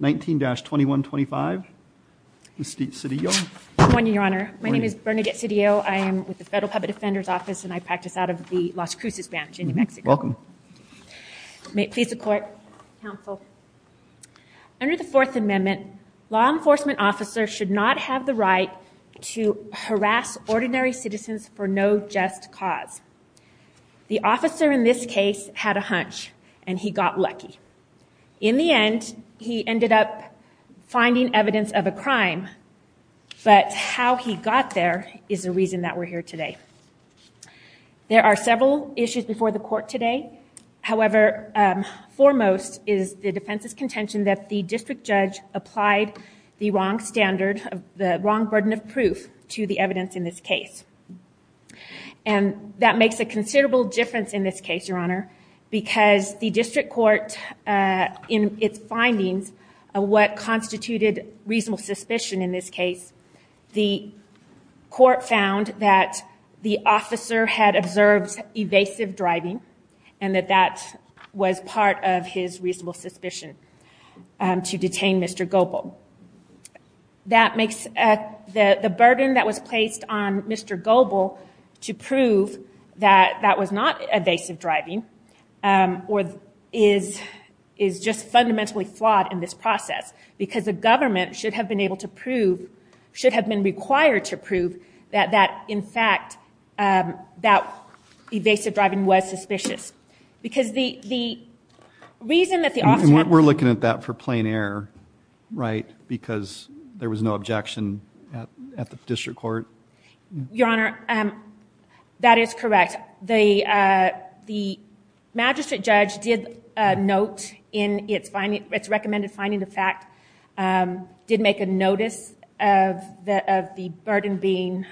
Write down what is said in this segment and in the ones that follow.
19-2125, Bernadette Cedillo Good morning, Your Honor. My name is Bernadette Cedillo. I am with the Federal Public Defender's Office and I practice out of the Las Cruces branch in New Mexico. May it please the Court, Counsel. Under the Fourth Amendment, law enforcement officers should not have the right to harass ordinary citizens for no just cause. The officer in this case had a hunch and he got lucky. In the end, he ended up finding evidence of a crime, but how he got there is the reason that we're here today. There are several issues before the Court today. However, foremost is the defense's contention that the district judge applied the wrong burden of proof to the evidence in this case. That makes a considerable difference in this case, Your Honor, because the district court, in its findings of what constituted reasonable suspicion in this case, the court found that the officer had observed evasive driving and that that was part of his reasonable suspicion to detain Mr. Goebel. That makes the burden that was placed on Mr. Goebel to prove that that was not evasive driving is just fundamentally flawed in this process because the government should have been able to prove, should have been required to prove, that that, in fact, that evasive driving was suspicious. Because the reason that the officer... We're looking at that for plain error, right? Because there was no objection at the district court? Your Honor, that is correct. The magistrate judge did note in its recommended finding in fact, did make a notice of the burden being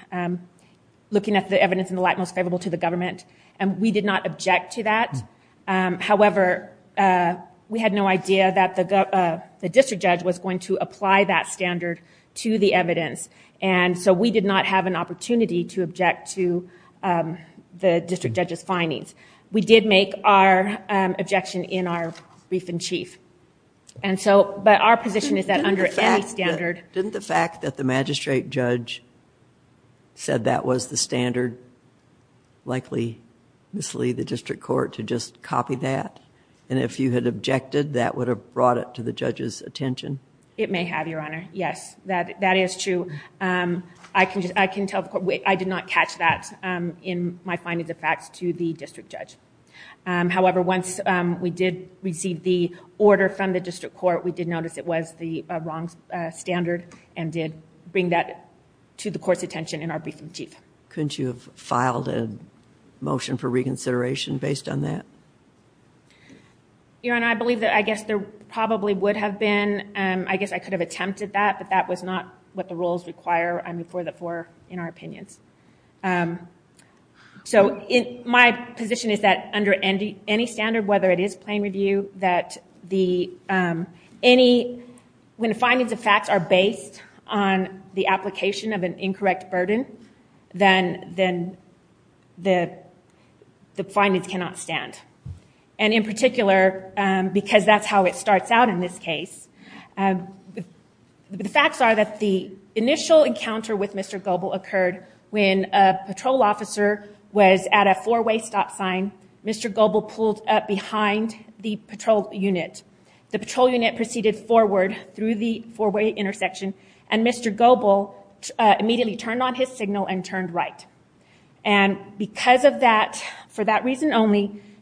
looking at the evidence in the light most favorable to the government. We did not object to that. However, we had no idea that the district judge was going to apply that standard to the evidence. We did not have an opportunity to object to the district judge's findings. We did make our objection in our brief in chief. But our position is that under any standard... Didn't the fact that the magistrate judge said that was the standard likely mislead the district court to just copy that? And if you had objected, that would have brought it to the judge's attention? It may have, Your Honor. Yes, that is true. I can tell the court, I did not catch that in my findings of facts to the district judge. However, once we did receive the order from the district court, we did notice it was the wrong standard and did bring that to the court's attention in our brief in chief. Couldn't you have filed a motion for reconsideration based on that? Your Honor, I believe that I guess there probably would have been... I guess I could have attempted that, but that was not what the rules require, I mean, for the four in our opinions. So my position is that under any standard, whether it is plain review, that when findings of facts are based on the application of an incorrect burden, then the findings cannot stand. And in particular, because that's how it starts out in this case, the facts are that the initial encounter with Mr. Goble occurred when a patrol officer was at a four-way stop sign. Mr. Goble pulled up behind the patrol unit. The patrol unit proceeded forward through the four-way intersection, and Mr. Goble immediately turned on his signal and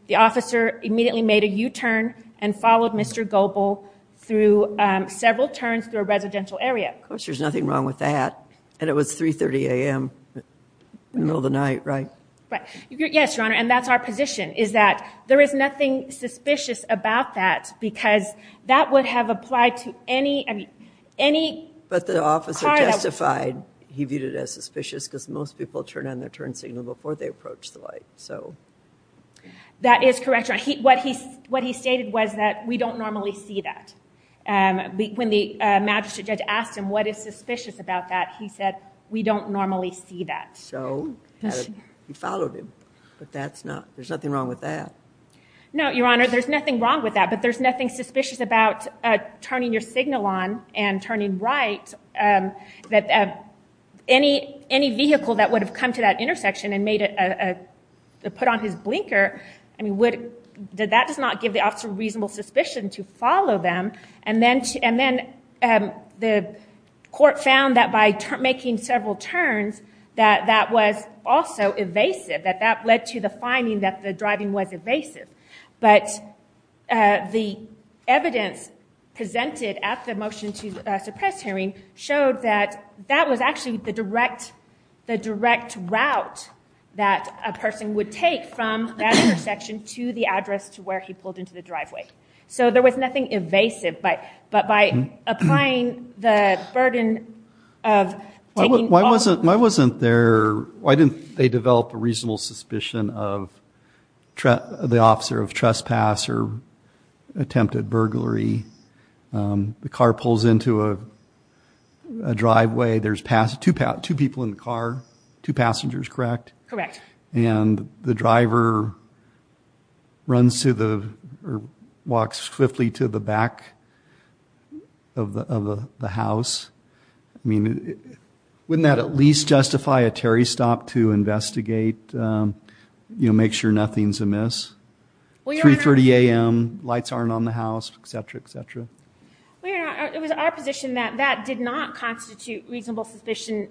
the officer immediately made a U-turn and followed Mr. Goble through several turns through a residential area. Of course, there's nothing wrong with that. And it was 3.30 a.m. in the middle of the night, right? Right. Yes, Your Honor, and that's our position, is that there is nothing suspicious about that because that would have applied to any, I mean, any car that... But the officer testified he viewed it as suspicious because most people turn on their turn signal before they approach the light, so... That is correct, Your Honor. What he stated was that we don't normally see that. When the magistrate judge asked him, what is suspicious about that, he said, we don't normally see that. So he followed him, but that's not... There's nothing wrong with that. No, Your Honor, there's nothing wrong with that, but there's nothing suspicious about turning your signal on and turning right that any vehicle that would have come to that intersection and made a... Put on his blinker, I mean, would... That does not give the officer reasonable suspicion to follow them. And then the court found that by making several turns that that was also evasive, that that led to the finding that the driving was evasive. But the evidence presented at the motion to suppress hearing showed that that was actually the direct route that a person would take from that intersection to the address to where he pulled into the driveway. So there was nothing evasive, but by applying the burden of taking... Why wasn't there... Why didn't they develop a reasonable suspicion of the officer of trespass or attempted burglary? The car pulls into a driveway, there's pass... Two passengers two people in the car, two passengers, correct? Correct. And the driver runs to the... Walks swiftly to the back of the house. I mean, wouldn't that at least justify a Terry stop to investigate, you know, make sure nothing's amiss? 3.30 a.m., lights aren't on the house, et cetera, et cetera. Well, you know, it was our position that that did not constitute reasonable suspicion.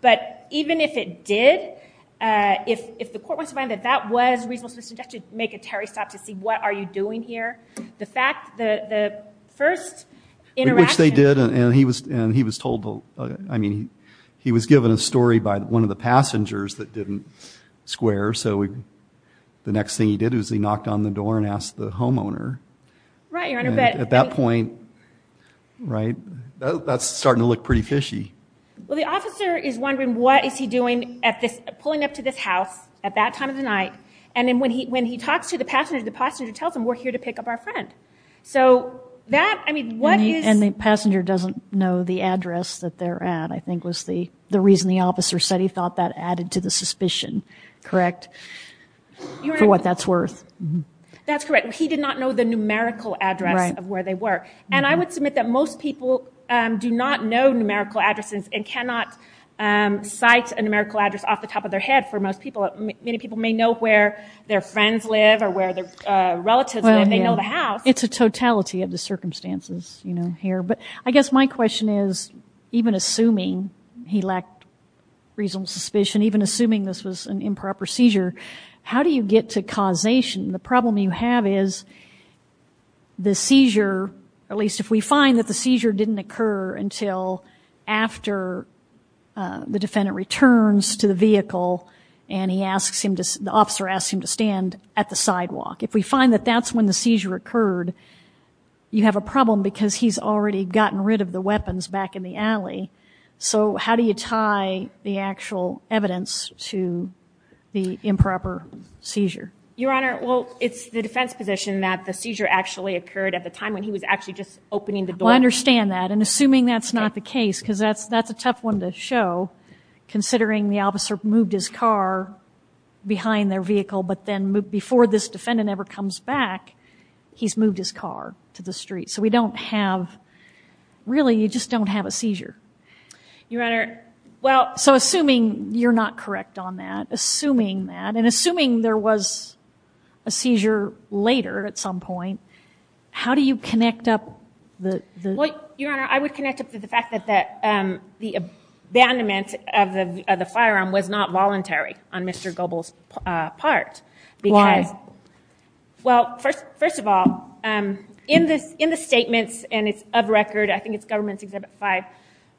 But even if it did, if the court wants to find that that was reasonable suspicion, just to make a Terry stop to see what are you doing here? The fact that the first interaction... Which they did, and he was told... I mean, he was given a story by one of the passengers that didn't square, so the next thing he did was he knocked on the door and asked the homeowner. Right, Your Honor, but... At that point, right, that's starting to look pretty fishy. Well, the officer is wondering what is he doing at this... Pulling up to this house at that time of the night, and then when he talks to the passenger, the passenger tells him, we're here to pick up our friend. So that, I mean, what is... And the passenger doesn't know the address that they're at, I think was the reason the officer said he thought that added to the suspicion, correct? For what that's worth. That's correct. He did not know the numerical address of where they were. And I would submit that most people do not know numerical addresses and cannot cite a numerical address off the top of their head for most people. Many people may know where their friends live or where their relatives live, they know the house. It's a totality of the circumstances, you know, here. But I guess my question is, even assuming he lacked reasonable suspicion, even assuming this was an improper seizure, how do you get to causation? The problem you have is the seizure, at least if we find that the seizure didn't occur until after the defendant returns to the vehicle and he asks him to... The officer asks him to stand at the sidewalk. If we find that that's when the seizure occurred, you have a problem because he's already gotten rid of the weapons back in the alley. So how do you tie the actual evidence to the improper seizure? Your Honor, well, it's the defense position that the seizure actually occurred at the time when he was actually just opening the door. Well, I understand that. And assuming that's not the case, because that's a tough one to show, considering the officer moved his car behind their vehicle, but then before this defendant ever comes back, he's moved his car to the street. So we don't have, really you just don't have a seizure. Your Honor, well, so assuming you're not correct on that, assuming that, and assuming there was a seizure later at some point, how do you connect up the... Well, Your Honor, I would connect up to the fact that the abandonment of the firearm was not voluntary on Mr. Goebbels' part. Why? Well, first of all, in the statements, and it's of record, I think it's government's record,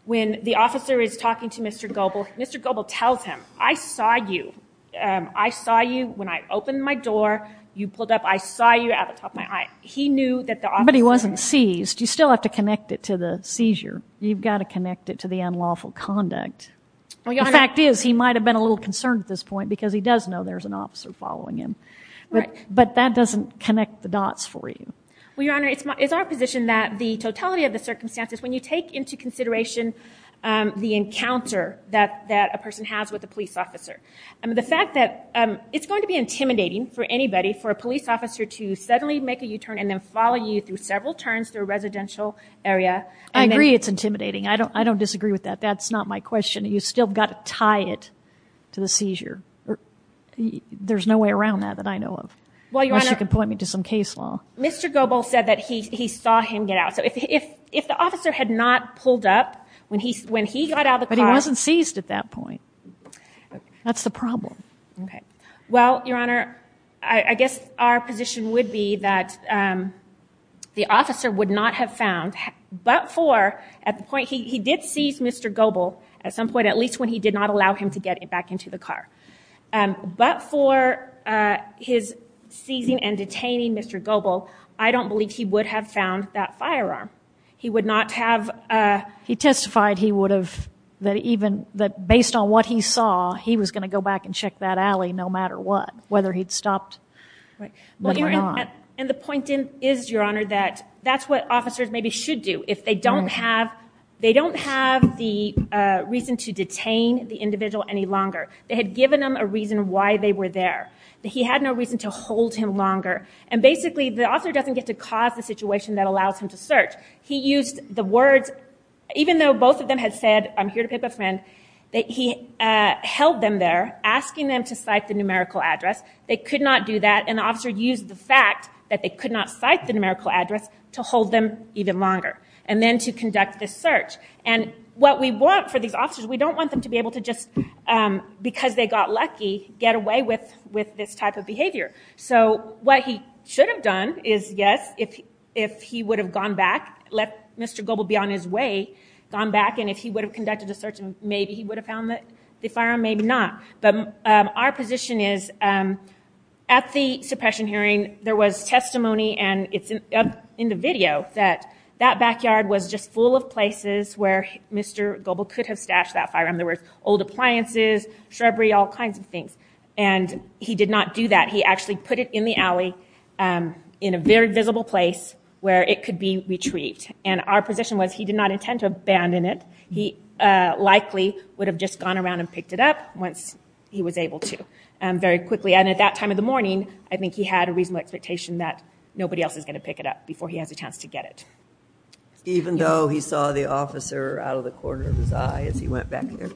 when the officer is talking to Mr. Goebbels, Mr. Goebbels tells him, I saw you. I saw you when I opened my door. You pulled up. I saw you out of the top of my eye. He knew that the officer... But he wasn't seized. You still have to connect it to the seizure. You've got to connect it to the unlawful conduct. Well, Your Honor... The fact is, he might have been a little concerned at this point, because he does know there's an officer following him. But that doesn't connect the dots for you. Well, Your Honor, it's our position that the totality of the circumstances, when you take into consideration the encounter that a person has with a police officer, the fact that it's going to be intimidating for anybody, for a police officer to suddenly make a U-turn and then follow you through several turns through a residential area... I agree it's intimidating. I don't disagree with that. That's not my question. You've still got to tie it to the seizure. There's no way around that that I know of. Well, Your Honor... Unless you can point me to some case law. Mr. Goebel said that he saw him get out. So if the officer had not pulled up when he got out of the car... But he wasn't seized at that point. That's the problem. Okay. Well, Your Honor, I guess our position would be that the officer would not have found, but for at the point... He did seize Mr. Goebel at some point, at least when he did not allow him to get back into the car. But for his seizing and detaining Mr. Goebel, I don't believe he would have found that firearm. He would not have... He testified he would have, that even based on what he saw, he was going to go back and check that alley no matter what, whether he'd stopped or not. And the point is, Your Honor, that that's what officers maybe should do. If they don't have the reason to detain the individual any longer, they had given him a reason why they were there, that he had no reason to hold him longer. And basically, the officer doesn't get to cause the situation that allows him to search. He used the words, even though both of them had said, I'm here to pick up a friend, that he held them there, asking them to cite the numerical address. They could not do that, and the officer used the fact that they could not cite the numerical address to hold them even longer. And then to conduct this search. And what we want for these officers, we don't want them to be able to just, because they got lucky, get away with this type of behavior. So what he should have done is, yes, if he would have gone back, let Mr. Goebel be on his way, gone back, and if he would have conducted a search, maybe he would have found the firearm, maybe not. But our position is, at the suppression hearing, there was testimony, and it's up in the video, that that backyard was just full of places where Mr. Goebel could have stashed that firearm. There were old appliances, shrubbery, all kinds of things. And he did not do that. He actually put it in the alley, in a very visible place where it could be retrieved. And our position was, he did not intend to abandon it. He likely would have just gone around and picked it up once he was able to, very quickly. And at that time of the morning, I think he had a reasonable expectation that nobody else was going to pick it up before he has a chance to get it. Even though he saw the officer out of the corner of his eye as he went back there?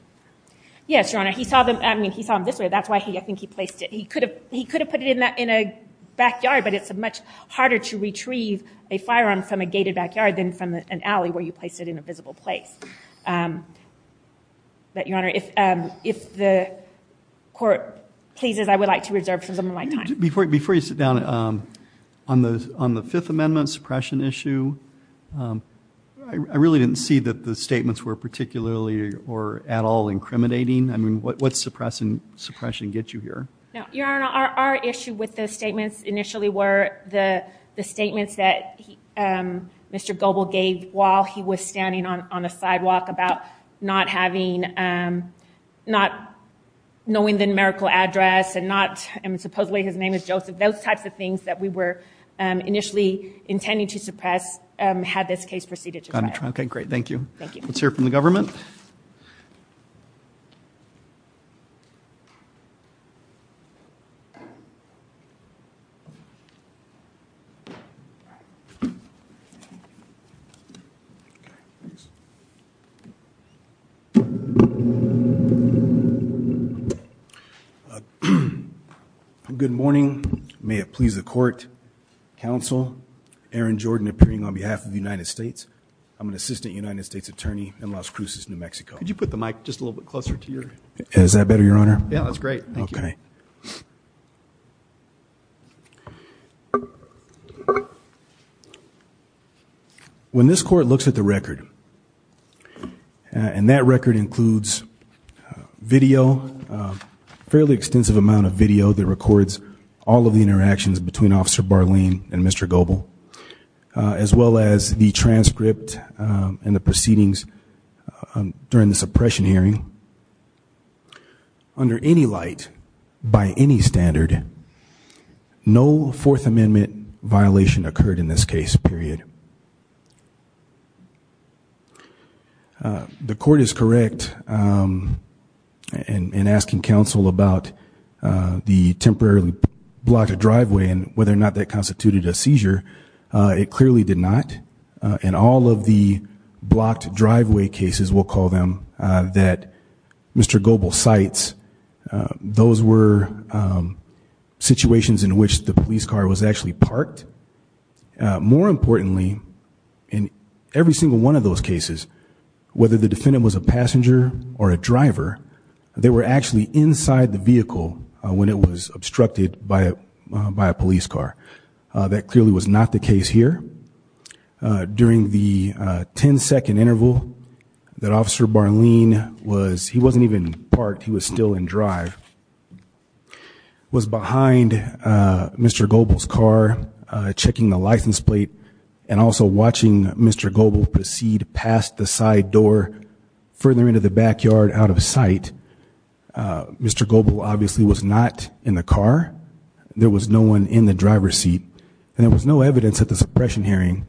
Yes, Your Honor. He saw them, I mean, he saw them this way. That's why I think he placed it. He could have put it in a backyard, but it's much harder to retrieve a firearm from a gated backyard than from an alley where you placed it in a visible place. But Your Honor, if the court pleases, I would like to reserve some of my time. Before you sit down, on the Fifth Amendment suppression issue, I really didn't see that the statements were particularly or at all incriminating. I mean, what's suppression get you here? Your Honor, our issue with the statements initially were the statements that Mr. Goble gave while he was standing on a sidewalk about not having, not knowing the numerical address and not, supposedly his name is Joseph. Those types of things that we were initially intending to suppress had this case proceeded to trial. Got it. Okay, great. Thank you. Thank you. Let's hear from the government. Good morning. May it please the court, counsel, Aaron Jordan appearing on behalf of the United States. I'm an assistant United States attorney in Las Cruces, New Mexico. Could you put the mic just a little bit closer to your- Is that better, Your Honor? Yeah, that's great. Thank you. Okay. When this court looks at the record, and that record includes video, a fairly extensive amount of video that records all of the interactions between Officer Barleen and Mr. Goble, as well as the transcript and the proceedings during the suppression hearing, under any light by any standard, no Fourth Amendment violation occurred in this case period. The court is correct in asking counsel about the temporarily blocked driveway and whether it clearly did not. In all of the blocked driveway cases, we'll call them that Mr. Goble cites, those were situations in which the police car was actually parked. More importantly, in every single one of those cases, whether the defendant was a passenger or a driver, they were actually inside the vehicle when it was obstructed by a police car. That clearly was not the case here. During the 10-second interval that Officer Barleen was- he wasn't even parked, he was still in drive- was behind Mr. Goble's car, checking the license plate, and also watching Mr. Goble proceed past the side door, further into the backyard, out of sight. Mr. Goble obviously was not in the car. There was no one in the driver's seat, and there was no evidence at the suppression hearing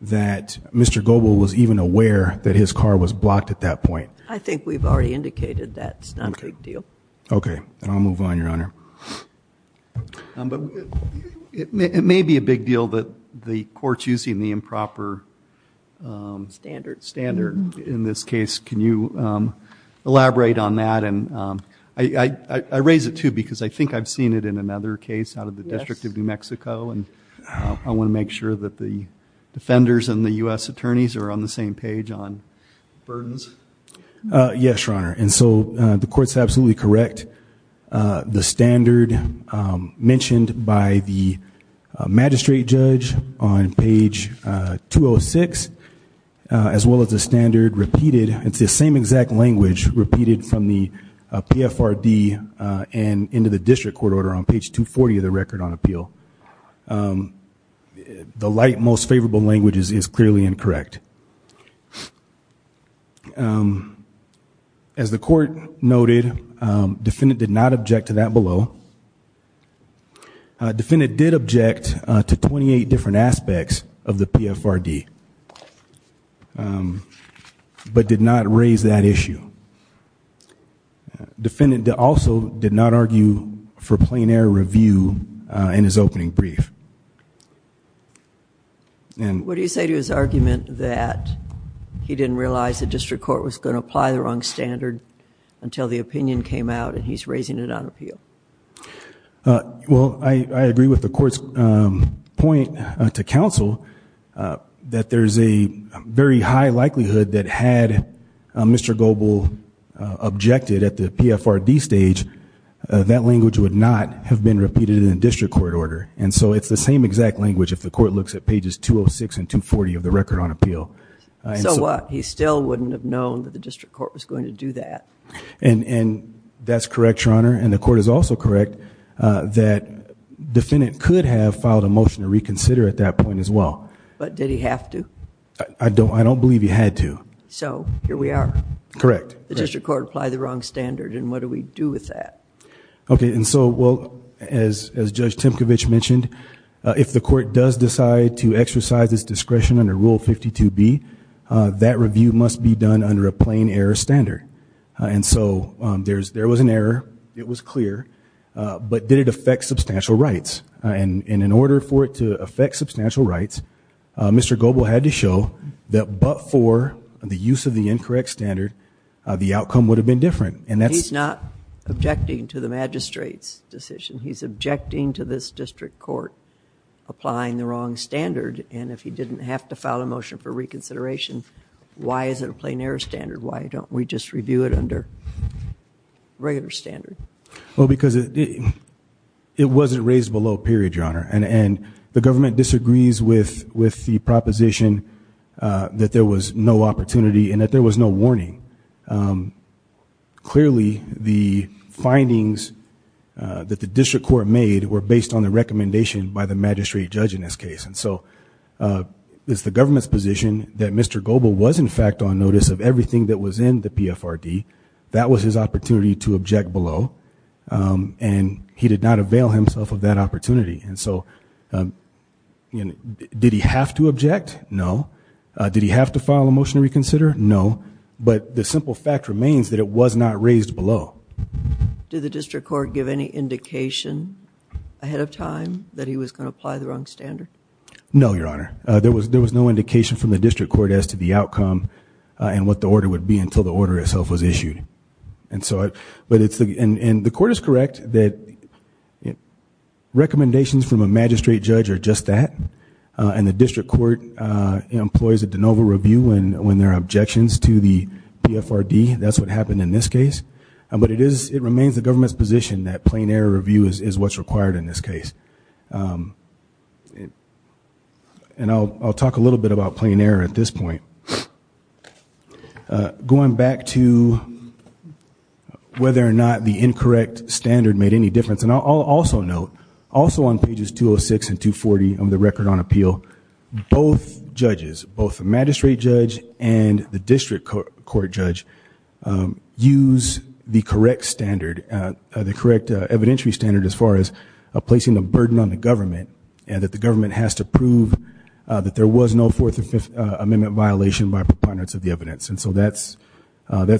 that Mr. Goble was even aware that his car was blocked at that point. I think we've already indicated that's not a big deal. Okay. Then I'll move on, Your Honor. It may be a big deal that the court's using the improper standard in this case. Can you elaborate on that? I raise it too, because I think I've seen it in another case out of the District of New Mexico, and I want to make sure that the defenders and the U.S. attorneys are on the same page on burdens. Yes, Your Honor, and so the court's absolutely correct. The standard mentioned by the magistrate judge on page 206, as well as the standard repeated It's the same exact language repeated from the PFRD and into the district court order on page 240 of the record on appeal. The light, most favorable language is clearly incorrect. As the court noted, defendant did not object to that below. Defendant did object to 28 different aspects of the PFRD, but did not raise that issue. Defendant also did not argue for plain air review in his opening brief. What do you say to his argument that he didn't realize the district court was going to apply the wrong standard until the opinion came out and he's raising it on appeal? Well, I agree with the court's point to counsel, that there's a very high likelihood that had Mr. Goble objected at the PFRD stage, that language would not have been repeated in the district court order. And so it's the same exact language if the court looks at pages 206 and 240 of the record on appeal. So what? He still wouldn't have known that the district court was going to do that. And that's correct, Your Honor. And the court is also correct that defendant could have filed a motion to reconsider at that point as well. But did he have to? I don't believe he had to. So here we are. Correct. The district court applied the wrong standard and what do we do with that? Okay. And so, well, as Judge Timkovich mentioned, if the court does decide to exercise its discretion under Rule 52B, that review must be done under a plain error standard. And so there was an error. It was clear. But did it affect substantial rights? And in order for it to affect substantial rights, Mr. Goble had to show that but for the use of the incorrect standard, the outcome would have been different. And that's... He's not objecting to the magistrate's decision. He's objecting to this district court applying the wrong standard. And if he didn't have to file a motion for reconsideration, why is it a plain error standard? Why don't we just review it under regular standard? Well, because it wasn't raised below period, Your Honor. And the government disagrees with the proposition that there was no opportunity and that there was no warning. Clearly, the findings that the district court made were based on the recommendation by the magistrate judge in this case. And so it's the government's position that Mr. Goble was, in fact, on notice of everything that was in the PFRD. That was his opportunity to object below. And he did not avail himself of that opportunity. And so did he have to object? No. Did he have to file a motion to reconsider? No. But the simple fact remains that it was not raised below. Did the district court give any indication ahead of time that he was going to apply the wrong standard? No, Your Honor. There was no indication from the district court as to the outcome and what the order would be until the order itself was issued. And so, but it's, and the court is correct that recommendations from a magistrate judge are just that. And the district court employs a de novo review when there are objections to the PFRD. That's what happened in this case. But it is, it remains the government's position that plain error review is what's required in this case. And I'll talk a little bit about plain error at this point. Going back to whether or not the incorrect standard made any difference, and I'll also note, also on pages 206 and 240 of the Record on Appeal, both judges, both the magistrate judge and the district court judge, use the correct standard, the correct evidentiary standard as far as placing the burden on the government, and that the government has to prove that there was no Fourth Amendment violation by preponderance of the evidence. And so that's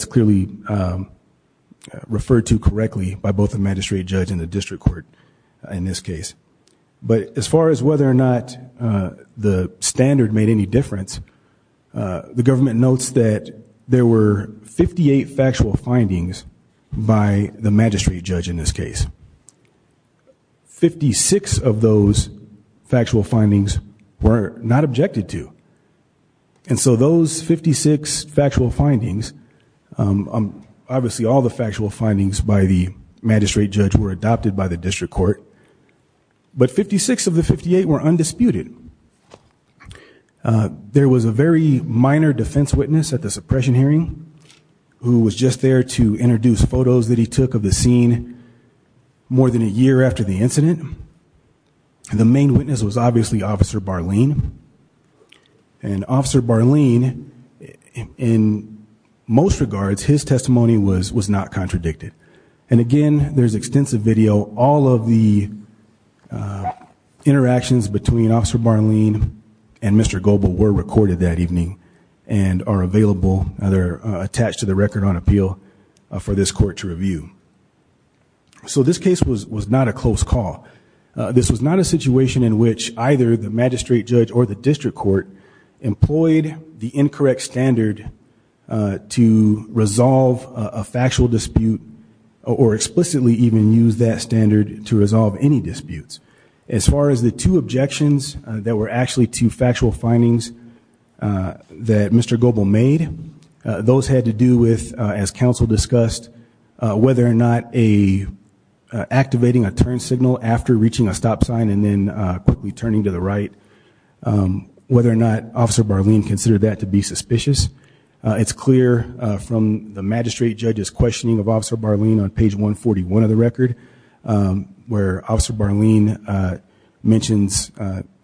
clearly referred to correctly by both the magistrate judge and the district court in this case. But as far as whether or not the standard made any difference, the government notes that there were 58 factual findings by the magistrate judge in this case. Fifty-six of those factual findings were not objected to. And so those 56 factual findings, obviously all the factual findings by the magistrate judge were adopted by the district court. But 56 of the 58 were undisputed. There was a very minor defense witness at the suppression hearing who was just there to introduce photos that he took of the scene more than a year after the incident. The main witness was obviously Officer Barleen. And Officer Barleen, in most regards, his testimony was not contradicted. And again, there's extensive video. All of the interactions between Officer Barleen and Mr. Gobel were recorded that evening and are available, they're attached to the record on appeal for this court to review. So this case was not a close call. This was not a situation in which either the magistrate judge or the district court employed the incorrect standard to resolve a factual dispute or explicitly even use that standard to resolve any disputes. As far as the two objections that were actually two factual findings that Mr. Gobel made, those had to do with, as counsel discussed, whether or not activating a turn signal after reaching a stop sign and then quickly turning to the right. Whether or not Officer Barleen considered that to be suspicious. It's clear from the magistrate judge's questioning of Officer Barleen on page 141 of the record, where Officer Barleen mentions,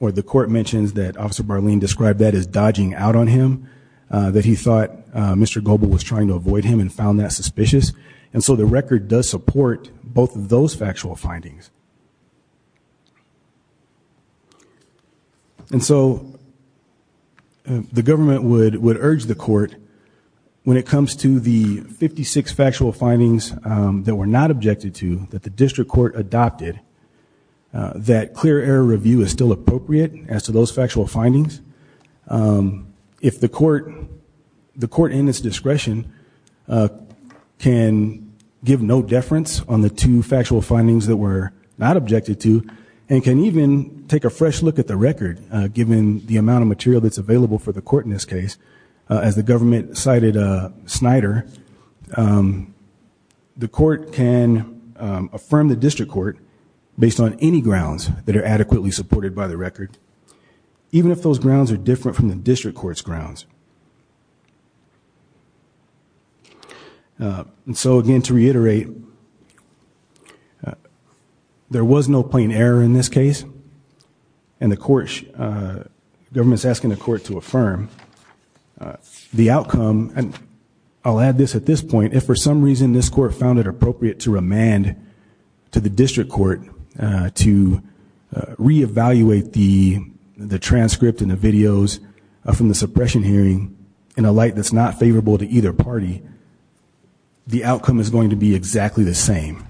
or the court mentions, that Officer Barleen described that as dodging out on him, that he thought Mr. Gobel was trying to avoid him and found that suspicious. And so the record does support both of those factual findings. And so the government would urge the court, when it comes to the 56 factual findings that were not objected to, that the district court adopted, that clear error review is still appropriate as to those factual findings. If the court, the court in its discretion can give no deference on the two factual findings that were not objected to, and can even take a fresh look at the record, given the amount of material that's available for the court in this case. As the government cited Snyder, the court can affirm the district court based on any grounds that are adequately supported by the record. Even if those grounds are different from the district court's grounds. And so again, to reiterate, there was no plain error in this case, and the government's asking the court to affirm. The outcome, and I'll add this at this point, if for some reason this court found it appropriate to remand to the district court to reevaluate the transcript and the videos from the suppression hearing in a light that's not favorable to either party, the outcome is going to be exactly the same.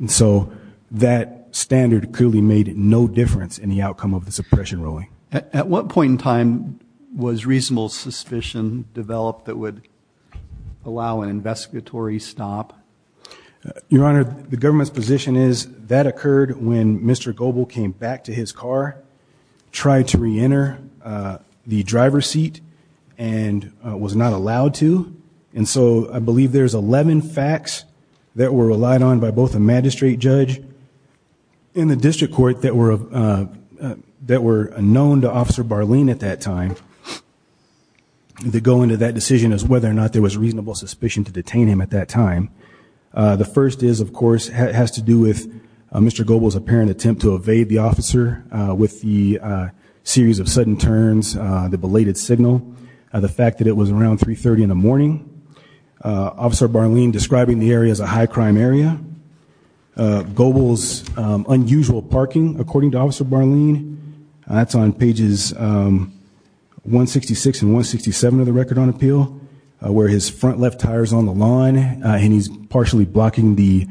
And so that standard clearly made no difference in the outcome of the suppression ruling. At what point in time was reasonable suspicion developed that would allow an investigatory stop? Your Honor, the government's position is that occurred when Mr. Goble came back to his car, tried to reenter the driver's seat, and was not allowed to. And so I believe there's 11 facts that were relied on by both a magistrate judge in the district court that were known to Officer Barleen at that time. To go into that decision as whether or not there was reasonable suspicion to detain him at that time. The first is, of course, has to do with Mr. Goble's apparent attempt to evade the officer with the series of sudden turns, the belated signal, the fact that it was around 3.30 in the morning. Officer Barleen describing the area as a high crime area. Goble's unusual parking, according to Officer Barleen. That's on pages 166 and 167 of the record on appeal, where his front left tire's on the lawn and he's partially blocking the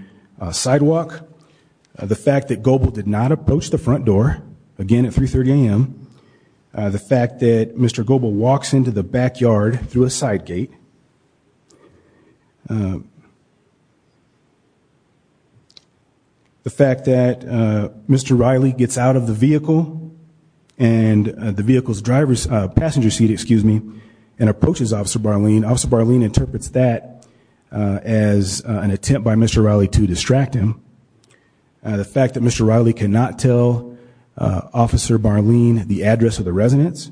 sidewalk. The fact that Goble did not approach the front door, again at 3.30 AM. The fact that Mr. Goble walks into the backyard through a side gate. The fact that Mr. Riley gets out of the vehicle and approaches Officer Barleen, Officer Barleen interprets that as an attempt by Mr. Riley to distract him. The fact that Mr. Riley cannot tell Officer Barleen the address of the residence.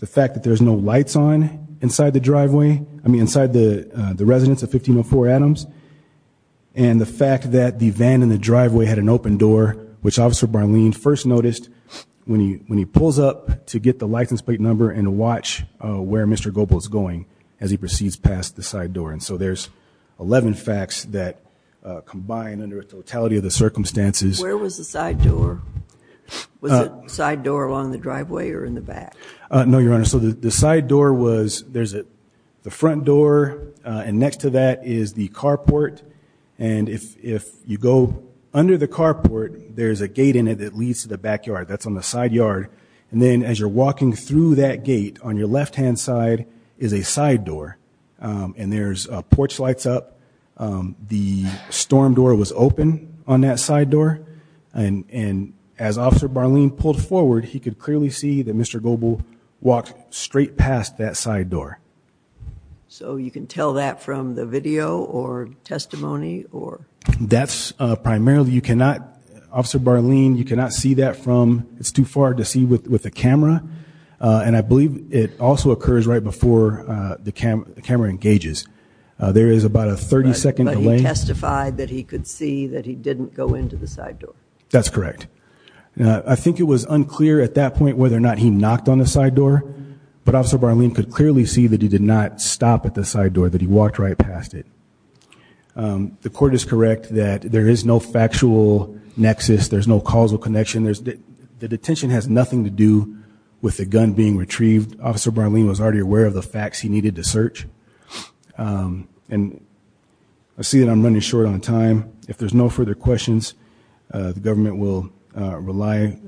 The fact that there's no lights on inside the driveway, I mean inside the residence of 1504 Adams. And the fact that the van in the driveway had an open door, which Officer Barleen first noticed when he pulls up to get the license plate number and watch where Mr. Goble is going as he proceeds past the side door. And so there's 11 facts that combine under a totality of the circumstances. Where was the side door? Was the side door along the driveway or in the back? No, Your Honor, so the side door was, there's the front door and next to that is the carport. And if you go under the carport, there's a gate in it that leads to the backyard, that's on the side yard. And then as you're walking through that gate, on your left-hand side is a side door. And there's porch lights up, the storm door was open on that side door. And as Officer Barleen pulled forward, he could clearly see that Mr. Goble walked straight past that side door. So you can tell that from the video or testimony or? That's primarily, you cannot, Officer Barleen, you cannot see that from, it's too far to see with the camera. And I believe it also occurs right before the camera engages. There is about a 30 second delay. But he testified that he could see that he didn't go into the side door. That's correct. I think it was unclear at that point whether or not he knocked on the side door. But Officer Barleen could clearly see that he did not stop at the side door, that he walked right past it. The court is correct that there is no factual nexus, there's no causal connection. The detention has nothing to do with the gun being retrieved. Officer Barleen was already aware of the facts he needed to search. And I see that I'm running short on time. If there's no further questions, the government will rely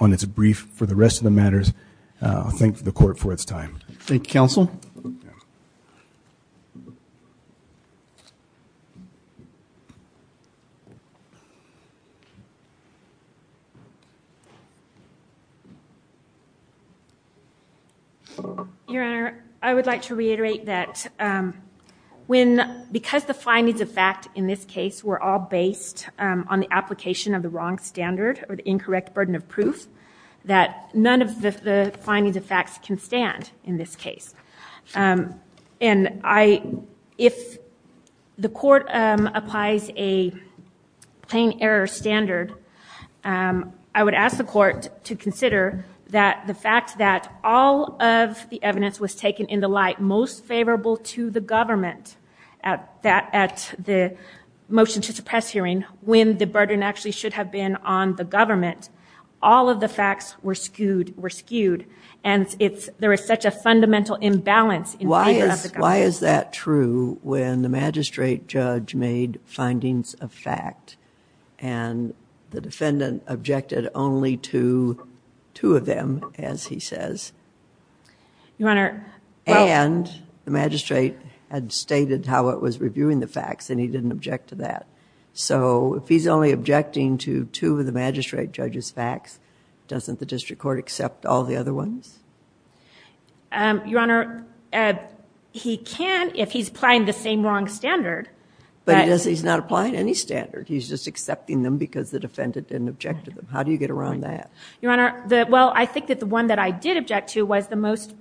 on its brief for the rest of the matters. I'll thank the court for its time. Thank you, counsel. Your Honor, I would like to reiterate that when, because the findings of fact in this case were all based on the application of the wrong standard or the incorrect burden of proof, that none of the findings of facts can stand in this case. And I, if the court applies a plain error standard, I would ask the court to consider that the fact that all of the evidence was taken in the light most favorable to the government at that, at the motion to suppress hearing when the burden actually should have been on the government. All of the facts were skewed, were skewed. And it's, there is such a fundamental imbalance in favor of the government. Why is that true when the magistrate judge made findings of fact and the defendant objected only to two of them, as he says? Your Honor, well. And the magistrate had stated how it was reviewing the facts and he didn't object to that. So, if he's only objecting to two of the magistrate judge's facts, doesn't the district court accept all the other ones? Your Honor, he can if he's applying the same wrong standard. But he's not applying any standard. He's just accepting them because the defendant didn't object to them. How do you get around that? Your Honor, the, well, I think that the one that I did object to was the most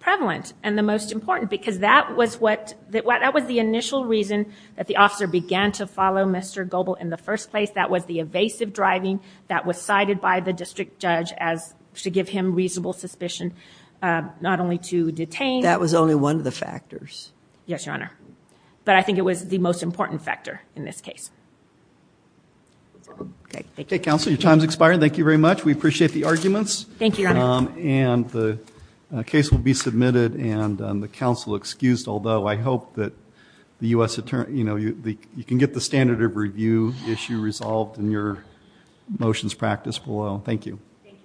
prevalent and the most important because that was what, that was the initial reason that the officer began to follow Mr. Goble in the first place, that was the evasive driving that was cited by the district judge as, to give him reasonable suspicion, not only to detain. That was only one of the factors. Yes, Your Honor. But I think it was the most important factor in this case. Okay, thank you. Okay, counsel, your time's expired. Thank you very much. We appreciate the arguments. Thank you, Your Honor. And the case will be submitted and the counsel excused, although I hope that the U.S. attorney, you know, you can get the standard of review issue resolved in your motions practice below. Thank you. Thank you, Your Honor.